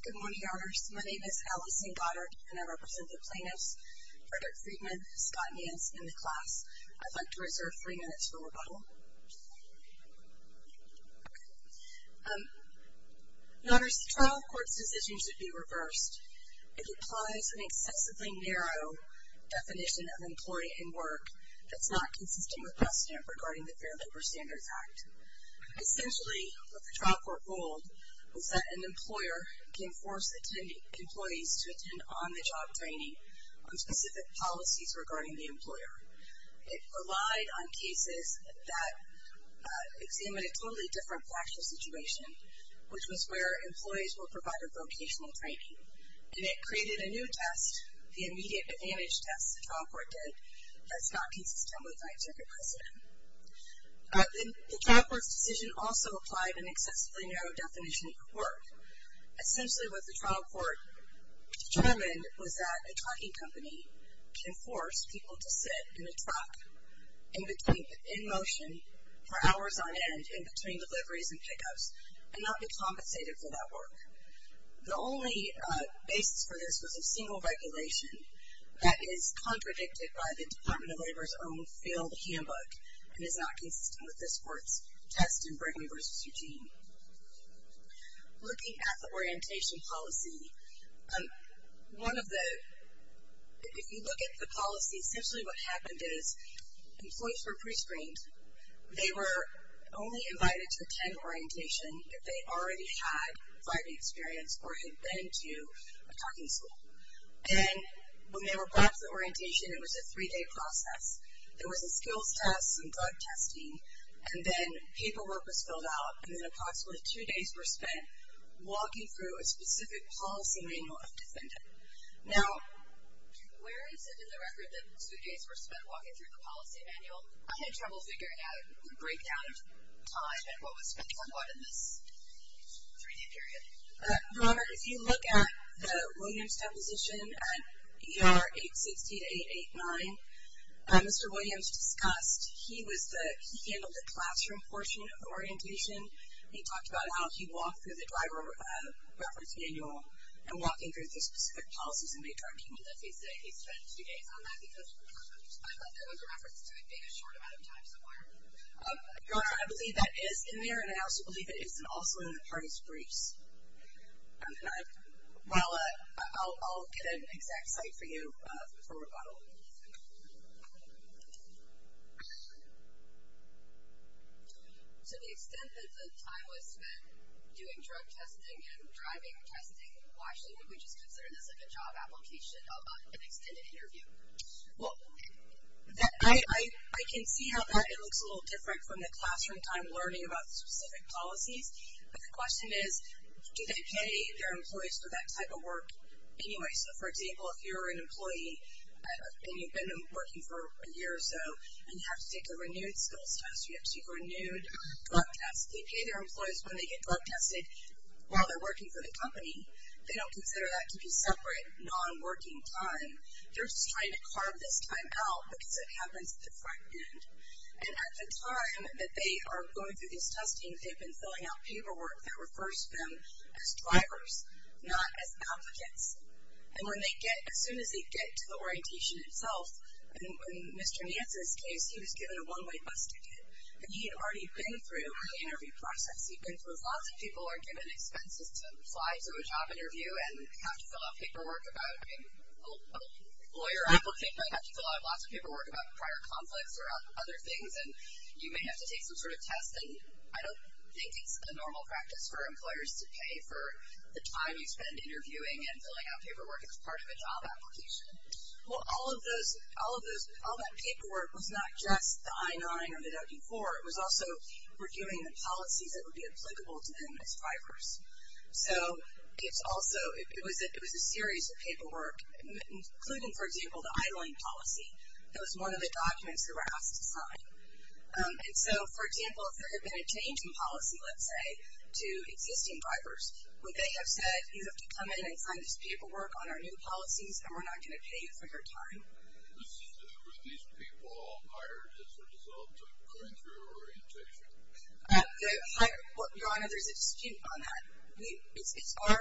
Good morning, honors. My name is Allyson Goddard, and I represent the plaintiffs Frederick Friedman, Scott Nance, and the class. I'd like to reserve three minutes for rebuttal. Honors, the trial court's decision should be reversed if it applies an excessively narrow definition of employee and work that's not consistent with precedent regarding the Fair Labor Standards Act. Essentially, what the trial court ruled was that an employer can force employees to attend on-the-job training on specific policies regarding the employer. It relied on cases that examined a totally different factual situation, which was where employees were provided vocational training. And it created a new test, the immediate advantage test the trial court did, that's not consistent with scientific precedent. The trial court's decision also applied an excessively narrow definition of work. Essentially, what the trial court determined was that a trucking company can force people to sit in a truck in motion for hours on end, in between deliveries and pickups, and not be compensated for that work. The only basis for this was a single regulation that is contradicted by the Department of Labor's own failed handbook and is not consistent with this court's test in Brinley v. Eugene. Looking at the orientation policy, one of the, if you look at the policy, essentially what happened is employees were pre-screened. They were only invited to attend orientation if they already had driving experience or had been to a trucking school. And when they were brought to the orientation, it was a three-day process. There was a skills test and drug testing, and then paperwork was filled out, and then approximately two days were spent walking through a specific policy manual of the defendant. Now, where is it in the record that two days were spent walking through the policy manual? I had trouble figuring out the breakdown of time and what was spent on what in this three-day period. Robert, if you look at the Williams deposition at ER 860-889, Mr. Williams discussed, he handled the classroom portion of orientation. He talked about how he walked through the driver reference manual and walking through the specific policies of a trucking company. I'm going to have to say he spent two days on that, because I thought that was a reference to it being a short amount of time somewhere. I believe that is in there, and I also believe it is also in the parties' briefs. Well, I'll get an exact cite for you from a bottle. To the extent that the time was spent doing drug testing and driving testing, why should we just consider this like a job application of an extended interview? Well, I can see how that looks a little different from the classroom time learning about specific policies. But the question is, do they pay their employees for that type of work anyway? So, for example, if you're an employee and you've been working for a year or so, and you have to take a renewed skills test, you have to take a renewed drug test, they pay their employees when they get drug tested while they're working for the company. They don't consider that to be separate, non-working time. They're just trying to carve this time out, because it happens at the front end. And at the time that they are going through these testings, they've been filling out paperwork that refers to them as drivers, not as applicants. And as soon as they get to the orientation itself, in Mr. Nance's case, he was given a one-way bus ticket. And he had already been through the interview process. He'd been through it. Lots of people are given expenses to apply to a job interview and have to fill out paperwork about a lawyer application. They have to fill out lots of paperwork about prior conflicts or other things. And you may have to take some sort of test. And I don't think it's a normal practice for employers to pay for the time you spend interviewing and filling out paperwork as part of a job application. Well, all of that paperwork was not just the I-9 or the W-4. It was also reviewing the policies that would be applicable to them as drivers. So it was a series of paperwork, including, for example, the I-Line policy. That was one of the documents they were asked to sign. And so, for example, if there had been a change in policy, let's say, to existing drivers, would they have said, You have to come in and sign this paperwork on our new policies, and we're not going to pay you for your time. Were these people hired as a result of going through orientation? Your Honor, there's a dispute on that. It's our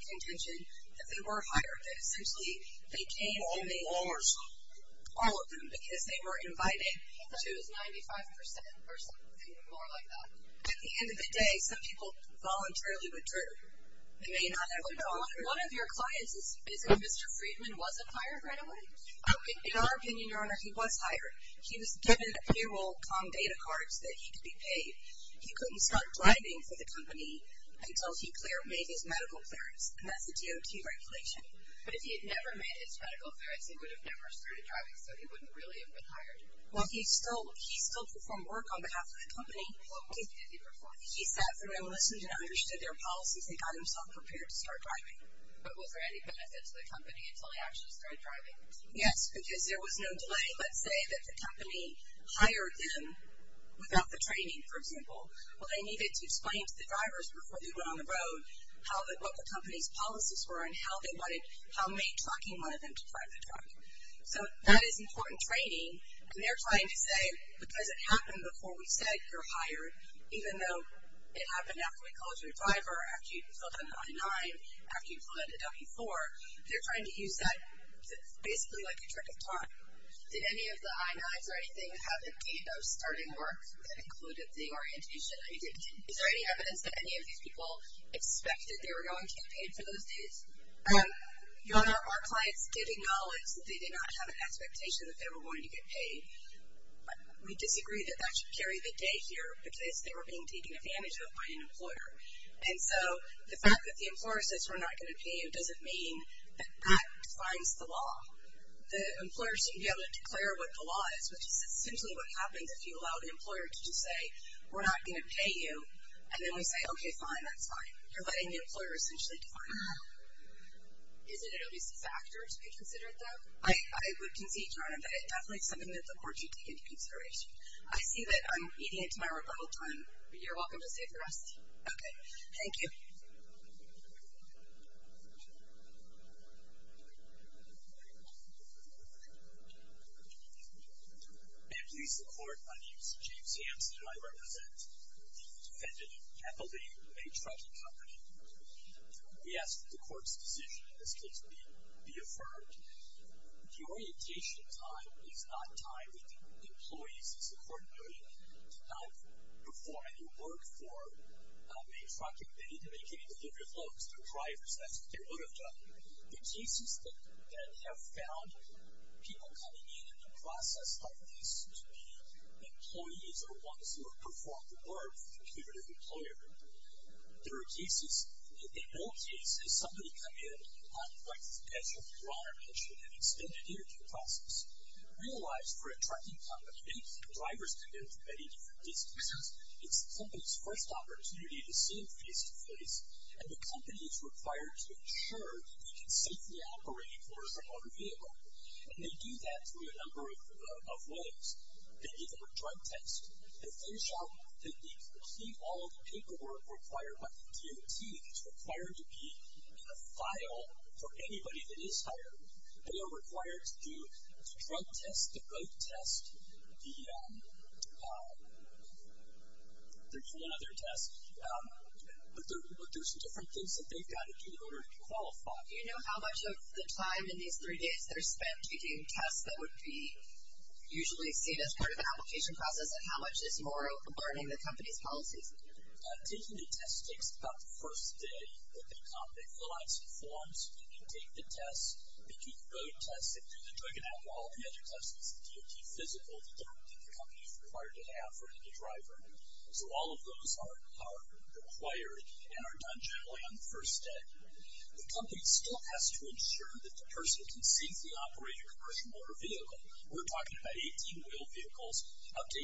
contention that they were hired, that essentially they came only All of them. All of them, because they were invited to 95% or something more like that. At the end of the day, some people voluntarily withdrew. They may not have gone. One of your clients, isn't Mr. Friedman, wasn't hired right away? In our opinion, Your Honor, he was hired. He was given payroll com data cards that he could be paid. He couldn't start driving for the company until he made his medical clearance, and that's a DOT regulation. But if he had never made his medical clearance, he would have never started driving, so he wouldn't really have been hired. Well, he still performed work on behalf of the company. What was it that he performed? He sat through and listened and understood their policies and got himself prepared to start driving. But was there any benefit to the company until he actually started driving? Yes, because there was no delay. Let's say that the company hired them without the training, for example. Well, they needed to explain to the drivers before they went on the road what the company's policies were and how many trucking wanted them to drive the truck. So that is important training. And they're trying to say, because it happened before we said you're hired, even though it happened after we called your driver, after you filled in the I-9, after you filled in the W-4, they're trying to use that basically like a trick of time. Did any of the I-9s or anything have a date of starting work that included the orientation that you did? Is there any evidence that any of these people expected they were going campaign for those dates? Your Honor, our clients did acknowledge that they did not have an expectation that they were going to get paid. We disagree that that should carry the day here because they were being taken advantage of by an employer. And so the fact that the employer says we're not going to pay you doesn't mean that that defines the law. The employer shouldn't be able to declare what the law is, which is essentially what happens if you allow the employer to just say, we're not going to pay you, and then we say, okay, fine, that's fine. You're letting the employer essentially define that. Isn't it at least a factor to be considered, though? I would concede, Your Honor, that it definitely is something that the court should take into consideration. I see that I'm eating into my rebuttal time. You're welcome to stay for the rest. Okay. Thank you. May it please the Court, my name is James Hanson, and I represent the defendant, Kathleen, a trucking company. We ask that the court's decision in this case be affirmed. The orientation time is not tied with the employees, as the court noted, to help perform any work for a trucking company. They need to make any delivery of loads. They're drivers. That's what they would have done. The cases that have found people coming in in the process of this to be employees are ones who have performed the work, including the employer. There are cases, in all cases, somebody come in on the basis, as Your Honor mentioned, of an extended interview process. Realize, for a trucking company, drivers come in from many different distances. It's the company's first opportunity to see them face-to-face, and the company is required to ensure that they can safely operate for their own vehicle. And they do that through a number of ways. They give them a drug test. They complete all of the paperwork required by the DOT, which is required to be in a file for anybody that is hired. They are required to do the drug test, the boat test, there's one other test. But there's different things that they've got to do in order to qualify. Do you know how much of the time in these three days that are spent taking tests that would be usually seen as part of an application process, and how much is more of learning the company's policies? Taking the test takes about the first day that they come. They fill out some forms. They take the test. They do the boat test. They do the drug and alcohol. The other test is the DOT physical that the company is required to have for any driver. So all of those are required and are done generally on the first day. The company still has to ensure that the person can safely operate a commercial motor vehicle. We're talking about 18-wheel vehicles up to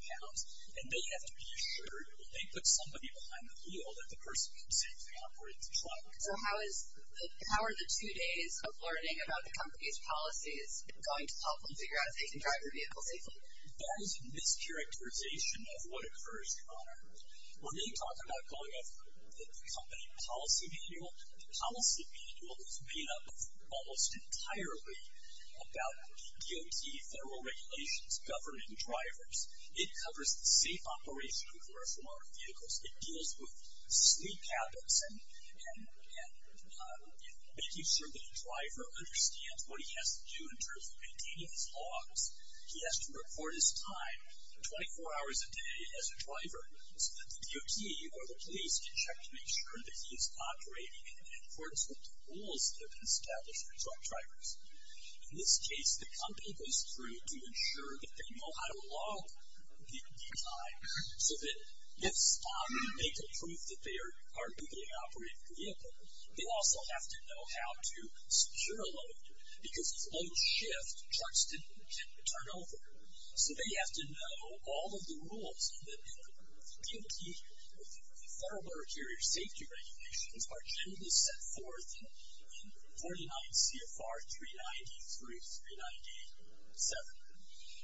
80,000 pounds, and they have to be assured when they put somebody behind the wheel that the person can safely operate the truck. So how are the two days of learning about the company's policies going to help them figure out if they can drive their vehicle safely? That is a mischaracterization of what occurs, Connor. When they talk about going over the company policy manual, the policy manual is made up of almost entirely about DOT federal regulations governing drivers. It covers the safe operation of commercial motor vehicles. It deals with sleep habits and making sure that the driver understands what he has to do in terms of maintaining his logs. He has to report his time 24 hours a day as a driver so that the DOT or the police can check to make sure that he is operating in accordance with the rules that have been established for truck drivers. In this case, the company goes through to ensure that they know how to log the time so that they can prove that they are legally operating the vehicle. They also have to know how to secure a load because if loads shift, trucks can turn over. So they have to know all of the rules that the federal motor carrier safety regulations are generally set forth in 49 CFR 393-398-7.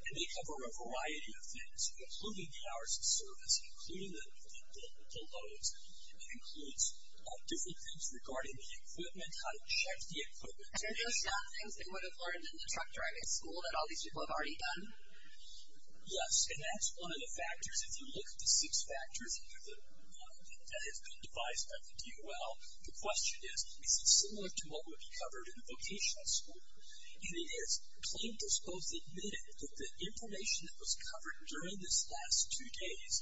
And they cover a variety of things, including the hours of service, including the loads. It includes different things regarding the equipment, how to check the equipment. Are those not things they would have learned in the truck driving school that all these people have already done? Yes, and that's one of the factors. If you look at the six factors that have been devised by the DOL, the question is, is it similar to what would be covered in a vocational school? And it is. Plaintiffs both admitted that the information that was covered during these last two days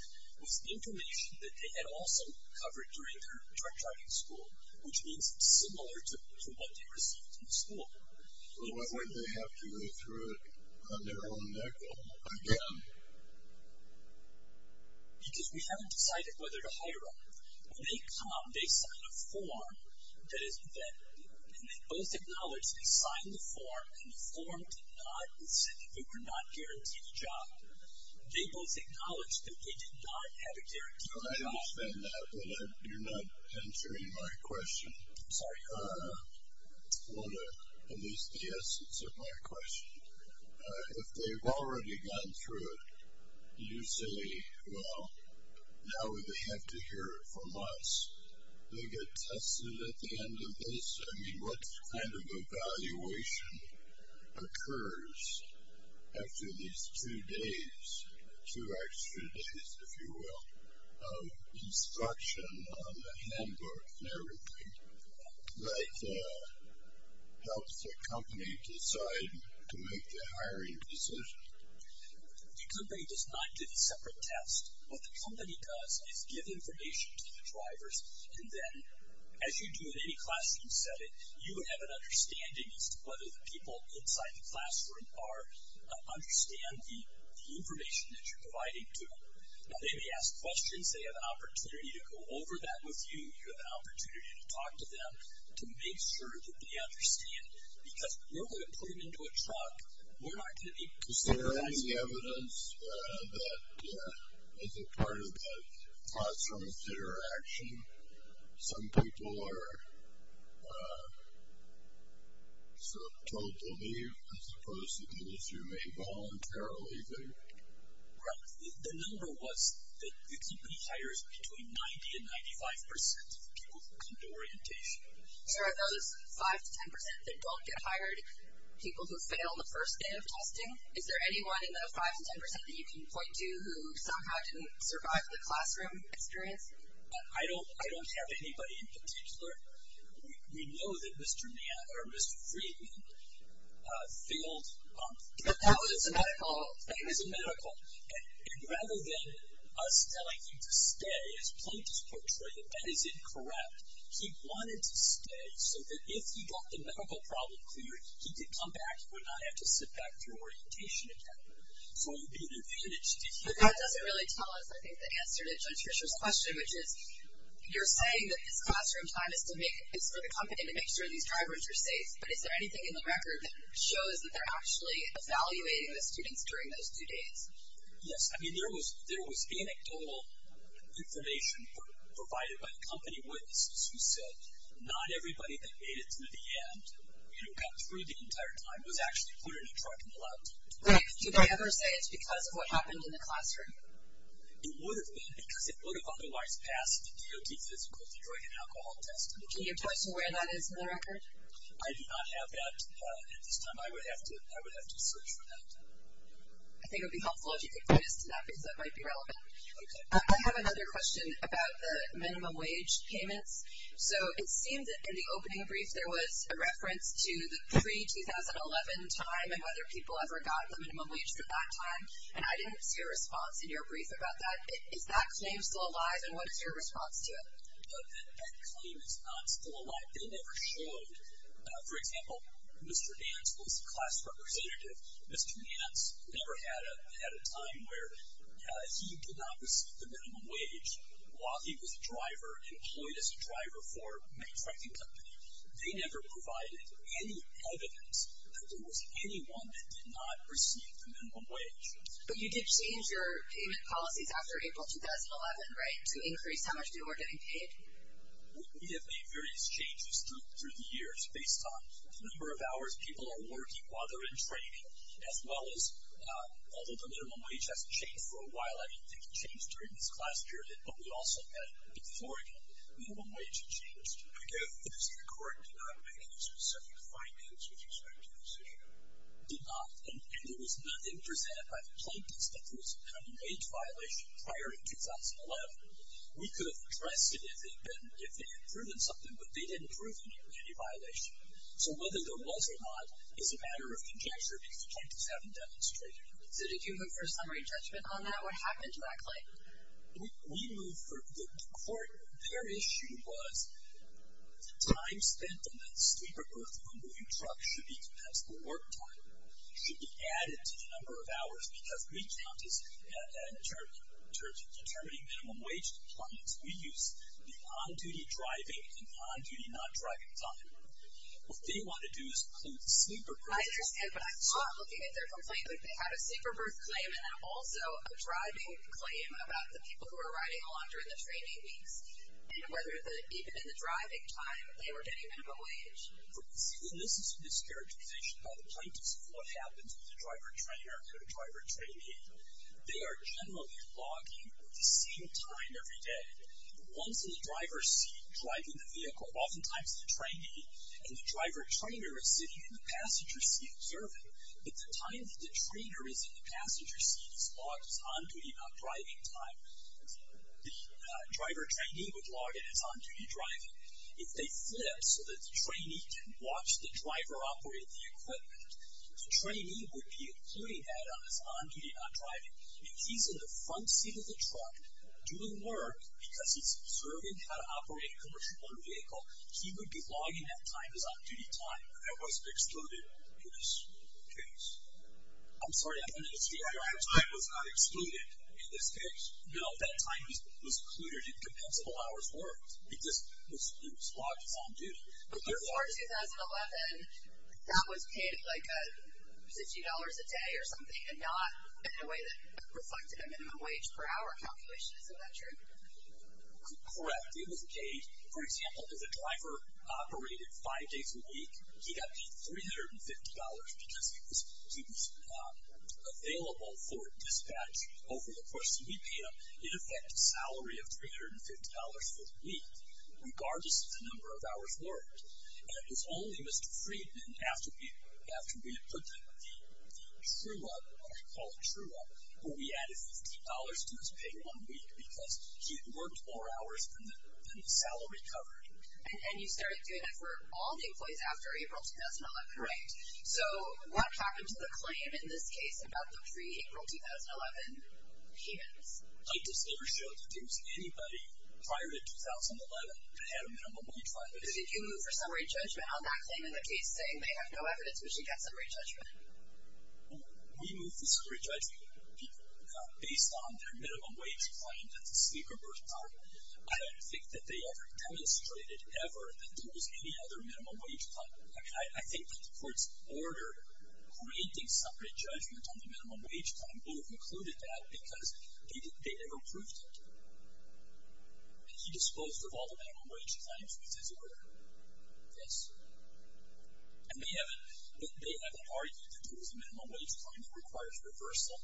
was information that they had also covered during their truck driving school, which means it's similar to what they received in school. So why would they have to go through it on their own neck again? Because we haven't decided whether to hire them. When they come, they sign a form, and they both acknowledge they signed the form, and the form did not say that they were not guaranteed a job. They both acknowledge that they did not have a guaranteed job. I understand that, but you're not answering my question. I'm sorry. Well, at least the essence of my question. If they've already gone through it, you say, well, now would they have to hear it from us? They get tested at the end of this. I mean, what kind of evaluation occurs after these two days, two extra days, if you will, of instruction on the handbook and everything? That helps the company decide to make the hiring decision. The company does not get a separate test. What the company does is give information to the drivers, and then as you do in any classroom setting, you would have an understanding as to whether the people inside the classroom understand the information that you're providing to them. Now, they may ask questions. They have an opportunity to go over that with you. You have an opportunity to talk to them to make sure that they understand, because we're going to put them into a truck. We're not going to be considering that. Is there any evidence that as a part of the classroom interaction, some people are sort of told to leave as opposed to those who may voluntarily leave? The number was that the company hires between 90% and 95% of people who come to orientation. Are those 5% to 10% that don't get hired people who fail the first day of testing? Is there anyone in those 5% to 10% that you can point to who somehow didn't survive the classroom experience? I don't have anybody in particular. We know that Mr. Mann or Mr. Friedman failed. But that was a medical. It was a medical. And rather than us telling him to stay, as Plaintiff's portrayed it, that is incorrect. He wanted to stay so that if he got the medical problem cleared, he could come back and would not have to sit back through orientation again. So it would be an advantage to him. But that doesn't really tell us, I think, the answer to Judge Fisher's question, which is you're saying that this classroom time is for the company to make sure these drivers are safe. But is there anything in the record that shows that they're actually evaluating the students during those two days? Yes. I mean, there was anecdotal information provided by the company witnesses who said not everybody that made it through the end, you know, got through the entire time, was actually put in a truck and left. Right. Did they ever say it's because of what happened in the classroom? It would have been because it would have otherwise passed the DOT physical de-drinking alcohol test. Can you tell us where that is in the record? I do not have that at this time. I would have to search for that. I think it would be helpful if you could point us to that because that might be relevant. Okay. I have another question about the minimum wage payments. So it seemed that in the opening brief there was a reference to the pre-2011 time and whether people ever got the minimum wage at that time, and I didn't see a response in your brief about that. Is that claim still alive, and what is your response to it? That claim is not still alive. They never showed. For example, Mr. Nance was a class representative. Mr. Nance never had a time where he did not receive the minimum wage while he was a driver and employed as a driver for a manufacturing company. They never provided any evidence that there was anyone that did not receive the minimum wage. But you did change your payment policies after April 2011, right, to increase how much people were getting paid? We have made various changes through the years based on the number of hours people are working while they're in training, as well as although the minimum wage hasn't changed for a while, I don't think it changed during this class period, but we also had before again the minimum wage had changed. Okay. Is it correct to not make any specific findings with respect to this issue? It did not, and there was nothing presented by the plaintiffs that there was a minimum wage violation prior to 2011. We could have addressed it if they had proven something, but they didn't prove any violation. So whether there was or not is a matter of conjecture because the plaintiffs haven't demonstrated it. So did you move for a summary judgment on that? What happened to that claim? We moved for the court. Their issue was the time spent on the sleeper, earthquake-removing truck should be compensable work time, should be added to the number of hours because we count this in terms of determining minimum wage deployments. We use the on-duty driving and on-duty non-driving time. What they want to do is include the sleeper. I understand, but I'm not looking at their complaint like they had a sleeper berth claim and then also a driving claim about the people who were riding along during the training weeks and whether even in the driving time they were getting minimum wage. This is a discharacterization by the plaintiffs of what happens with a driver-trainer and a driver-trainee. They are generally logging the same time every day. Once in the driver's seat driving the vehicle, oftentimes the trainee and the driver-trainer are sitting in the passenger seat observing, but the time that the trainer is in the passenger seat is logged as on-duty non-driving time. The driver-trainee would log it as on-duty driving. If they flip so that the trainee can watch the driver operate the equipment, the trainee would be including that on his on-duty non-driving. If he's in the front seat of the truck doing work because he's observing how to operate a commercial motor vehicle, he would be logging that time as on-duty time. That was excluded in this case. I'm sorry, I don't understand. Your time was not excluded in this case? No, that time was included in compensable hours worked because it was logged as on-duty. Before 2011, that was paid like $50 a day or something, and not in a way that reflected a minimum wage per hour calculation. Is that true? Correct. It was paid, for example, if the driver operated five days a week, he got paid $350 because he was available for dispatch over the course of EPM. In effect, a salary of $350 per week, regardless of the number of hours worked. And it was only Mr. Friedman, after we had put the true-up, what I call a true-up, where we added $50 to his pay one week because he had worked more hours than the salary covered. And you started doing it for all the employees after April 2011. Correct. So what happened to the claim in this case about the pre-April 2011 payments? I just never showed that there was anybody prior to 2011 that had a minimum wage claim. So did you move for summary judgment on that claim in the case, saying they have no evidence, but you get summary judgment? We moved the summary judgment based on their minimum wage claim at the speaker birth time. I don't think that they ever demonstrated ever that there was any other minimum wage claim. I think that the court's order granting summary judgment on the minimum wage claim would have included that because they never proved it. He disclosed that all the minimum wage claims was his order. Yes. And they haven't argued that there was a minimum wage claim that requires reversal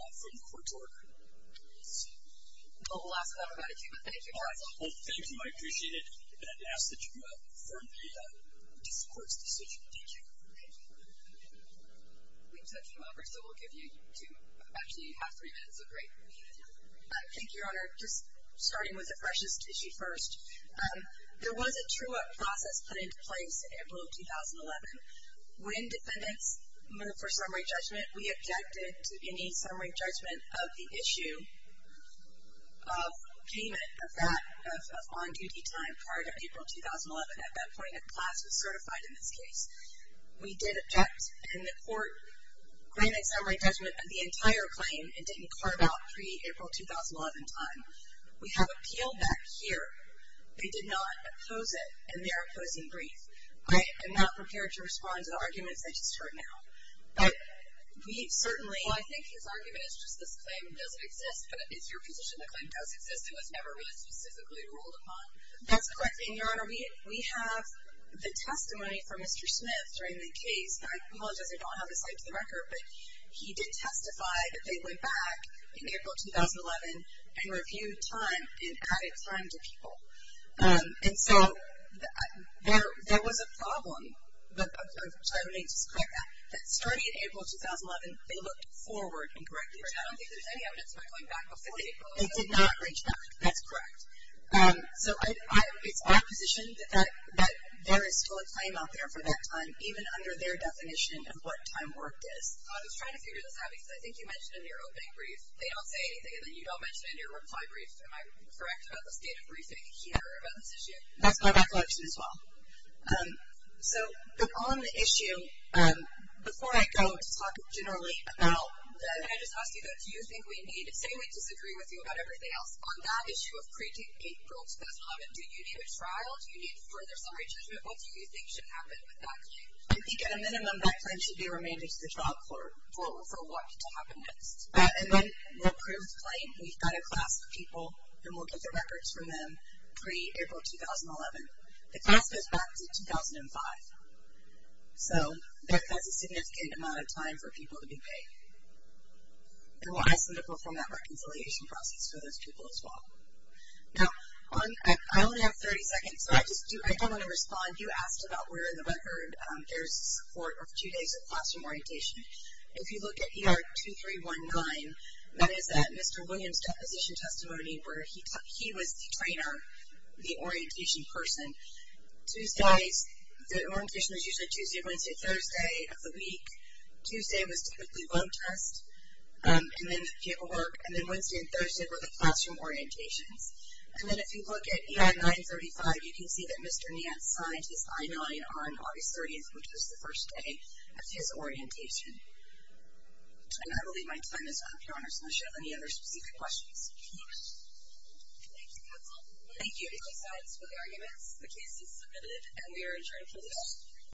from the court's order. Let's see. Well, we'll ask about it in a few minutes. Thank you very much. Well, thank you. I appreciate it. And I'd ask that you affirm the court's decision. Thank you. Thank you. We've touched them over, so we'll give you to actually have three minutes of break. Thank you, Your Honor. Just starting with the freshest issue first. There was a true-up process put into place in April of 2011. When defendants moved for summary judgment, we objected to any summary judgment of the issue of payment of that on-duty time prior to April 2011. At that point, a class was certified in this case. We did object, and the court granted summary judgment of the entire claim and didn't carve out pre-April 2011 time. We have appeal back here. They did not oppose it, and they are opposing brief. I am not prepared to respond to the arguments I just heard now. But we certainly — Well, I think his argument is just this claim doesn't exist, but it's your position the claim does exist and was never really specifically ruled upon. That's correct. And, Your Honor, we have the testimony from Mr. Smith during the case. I apologize I don't have his side to the record, but he did testify that they went back in April 2011 and reviewed time and added time to people. And so there was a problem, if I may just correct that, that starting in April 2011, they looked forward and corrected. I don't think there's any evidence about going back before April. They did not reach back. That's correct. So it's my position that there is still a claim out there for that time, even under their definition of what time worked is. I was trying to figure this out because I think you mentioned in your opening brief they don't say anything, and then you don't mention it in your reply brief. Am I correct about the state of briefing here about this issue? That's my recollection as well. So on the issue, before I go to talk generally about — I just asked you, though, do you think we need — say we disagree with you about everything else. On that issue of pre-April 2011, do you need a trial? Do you need further summary judgment? What do you think should happen with that claim? I think at a minimum that claim should be remanded to the trial court for what to happen next. And then the approved claim, we've got a class of people, and we'll get the records from them pre-April 2011. The class goes back to 2005. So that's a significant amount of time for people to be paid. And we'll ask them to perform that reconciliation process for those people as well. Now, I only have 30 seconds, so I just do — I don't want to respond. You asked about where in the record there's support of two days of classroom orientation. If you look at ER 2319, that is at Mr. Williams' deposition testimony where he was the trainer, the orientation person. Tuesdays — the orientation was usually Tuesday, Wednesday, Thursday of the week. Tuesday was typically vote test, and then paperwork. And then Wednesday and Thursday were the classroom orientations. And then if you look at EI 935, you can see that Mr. Niantz signed his I-9 on August 30th, which was the first day of his orientation. And I believe my time is up. Your Honor, does anyone have any other specific questions? Thank you, counsel. Thank you. Any other sides for the arguments? The case is submitted, and we are adjourned for the day.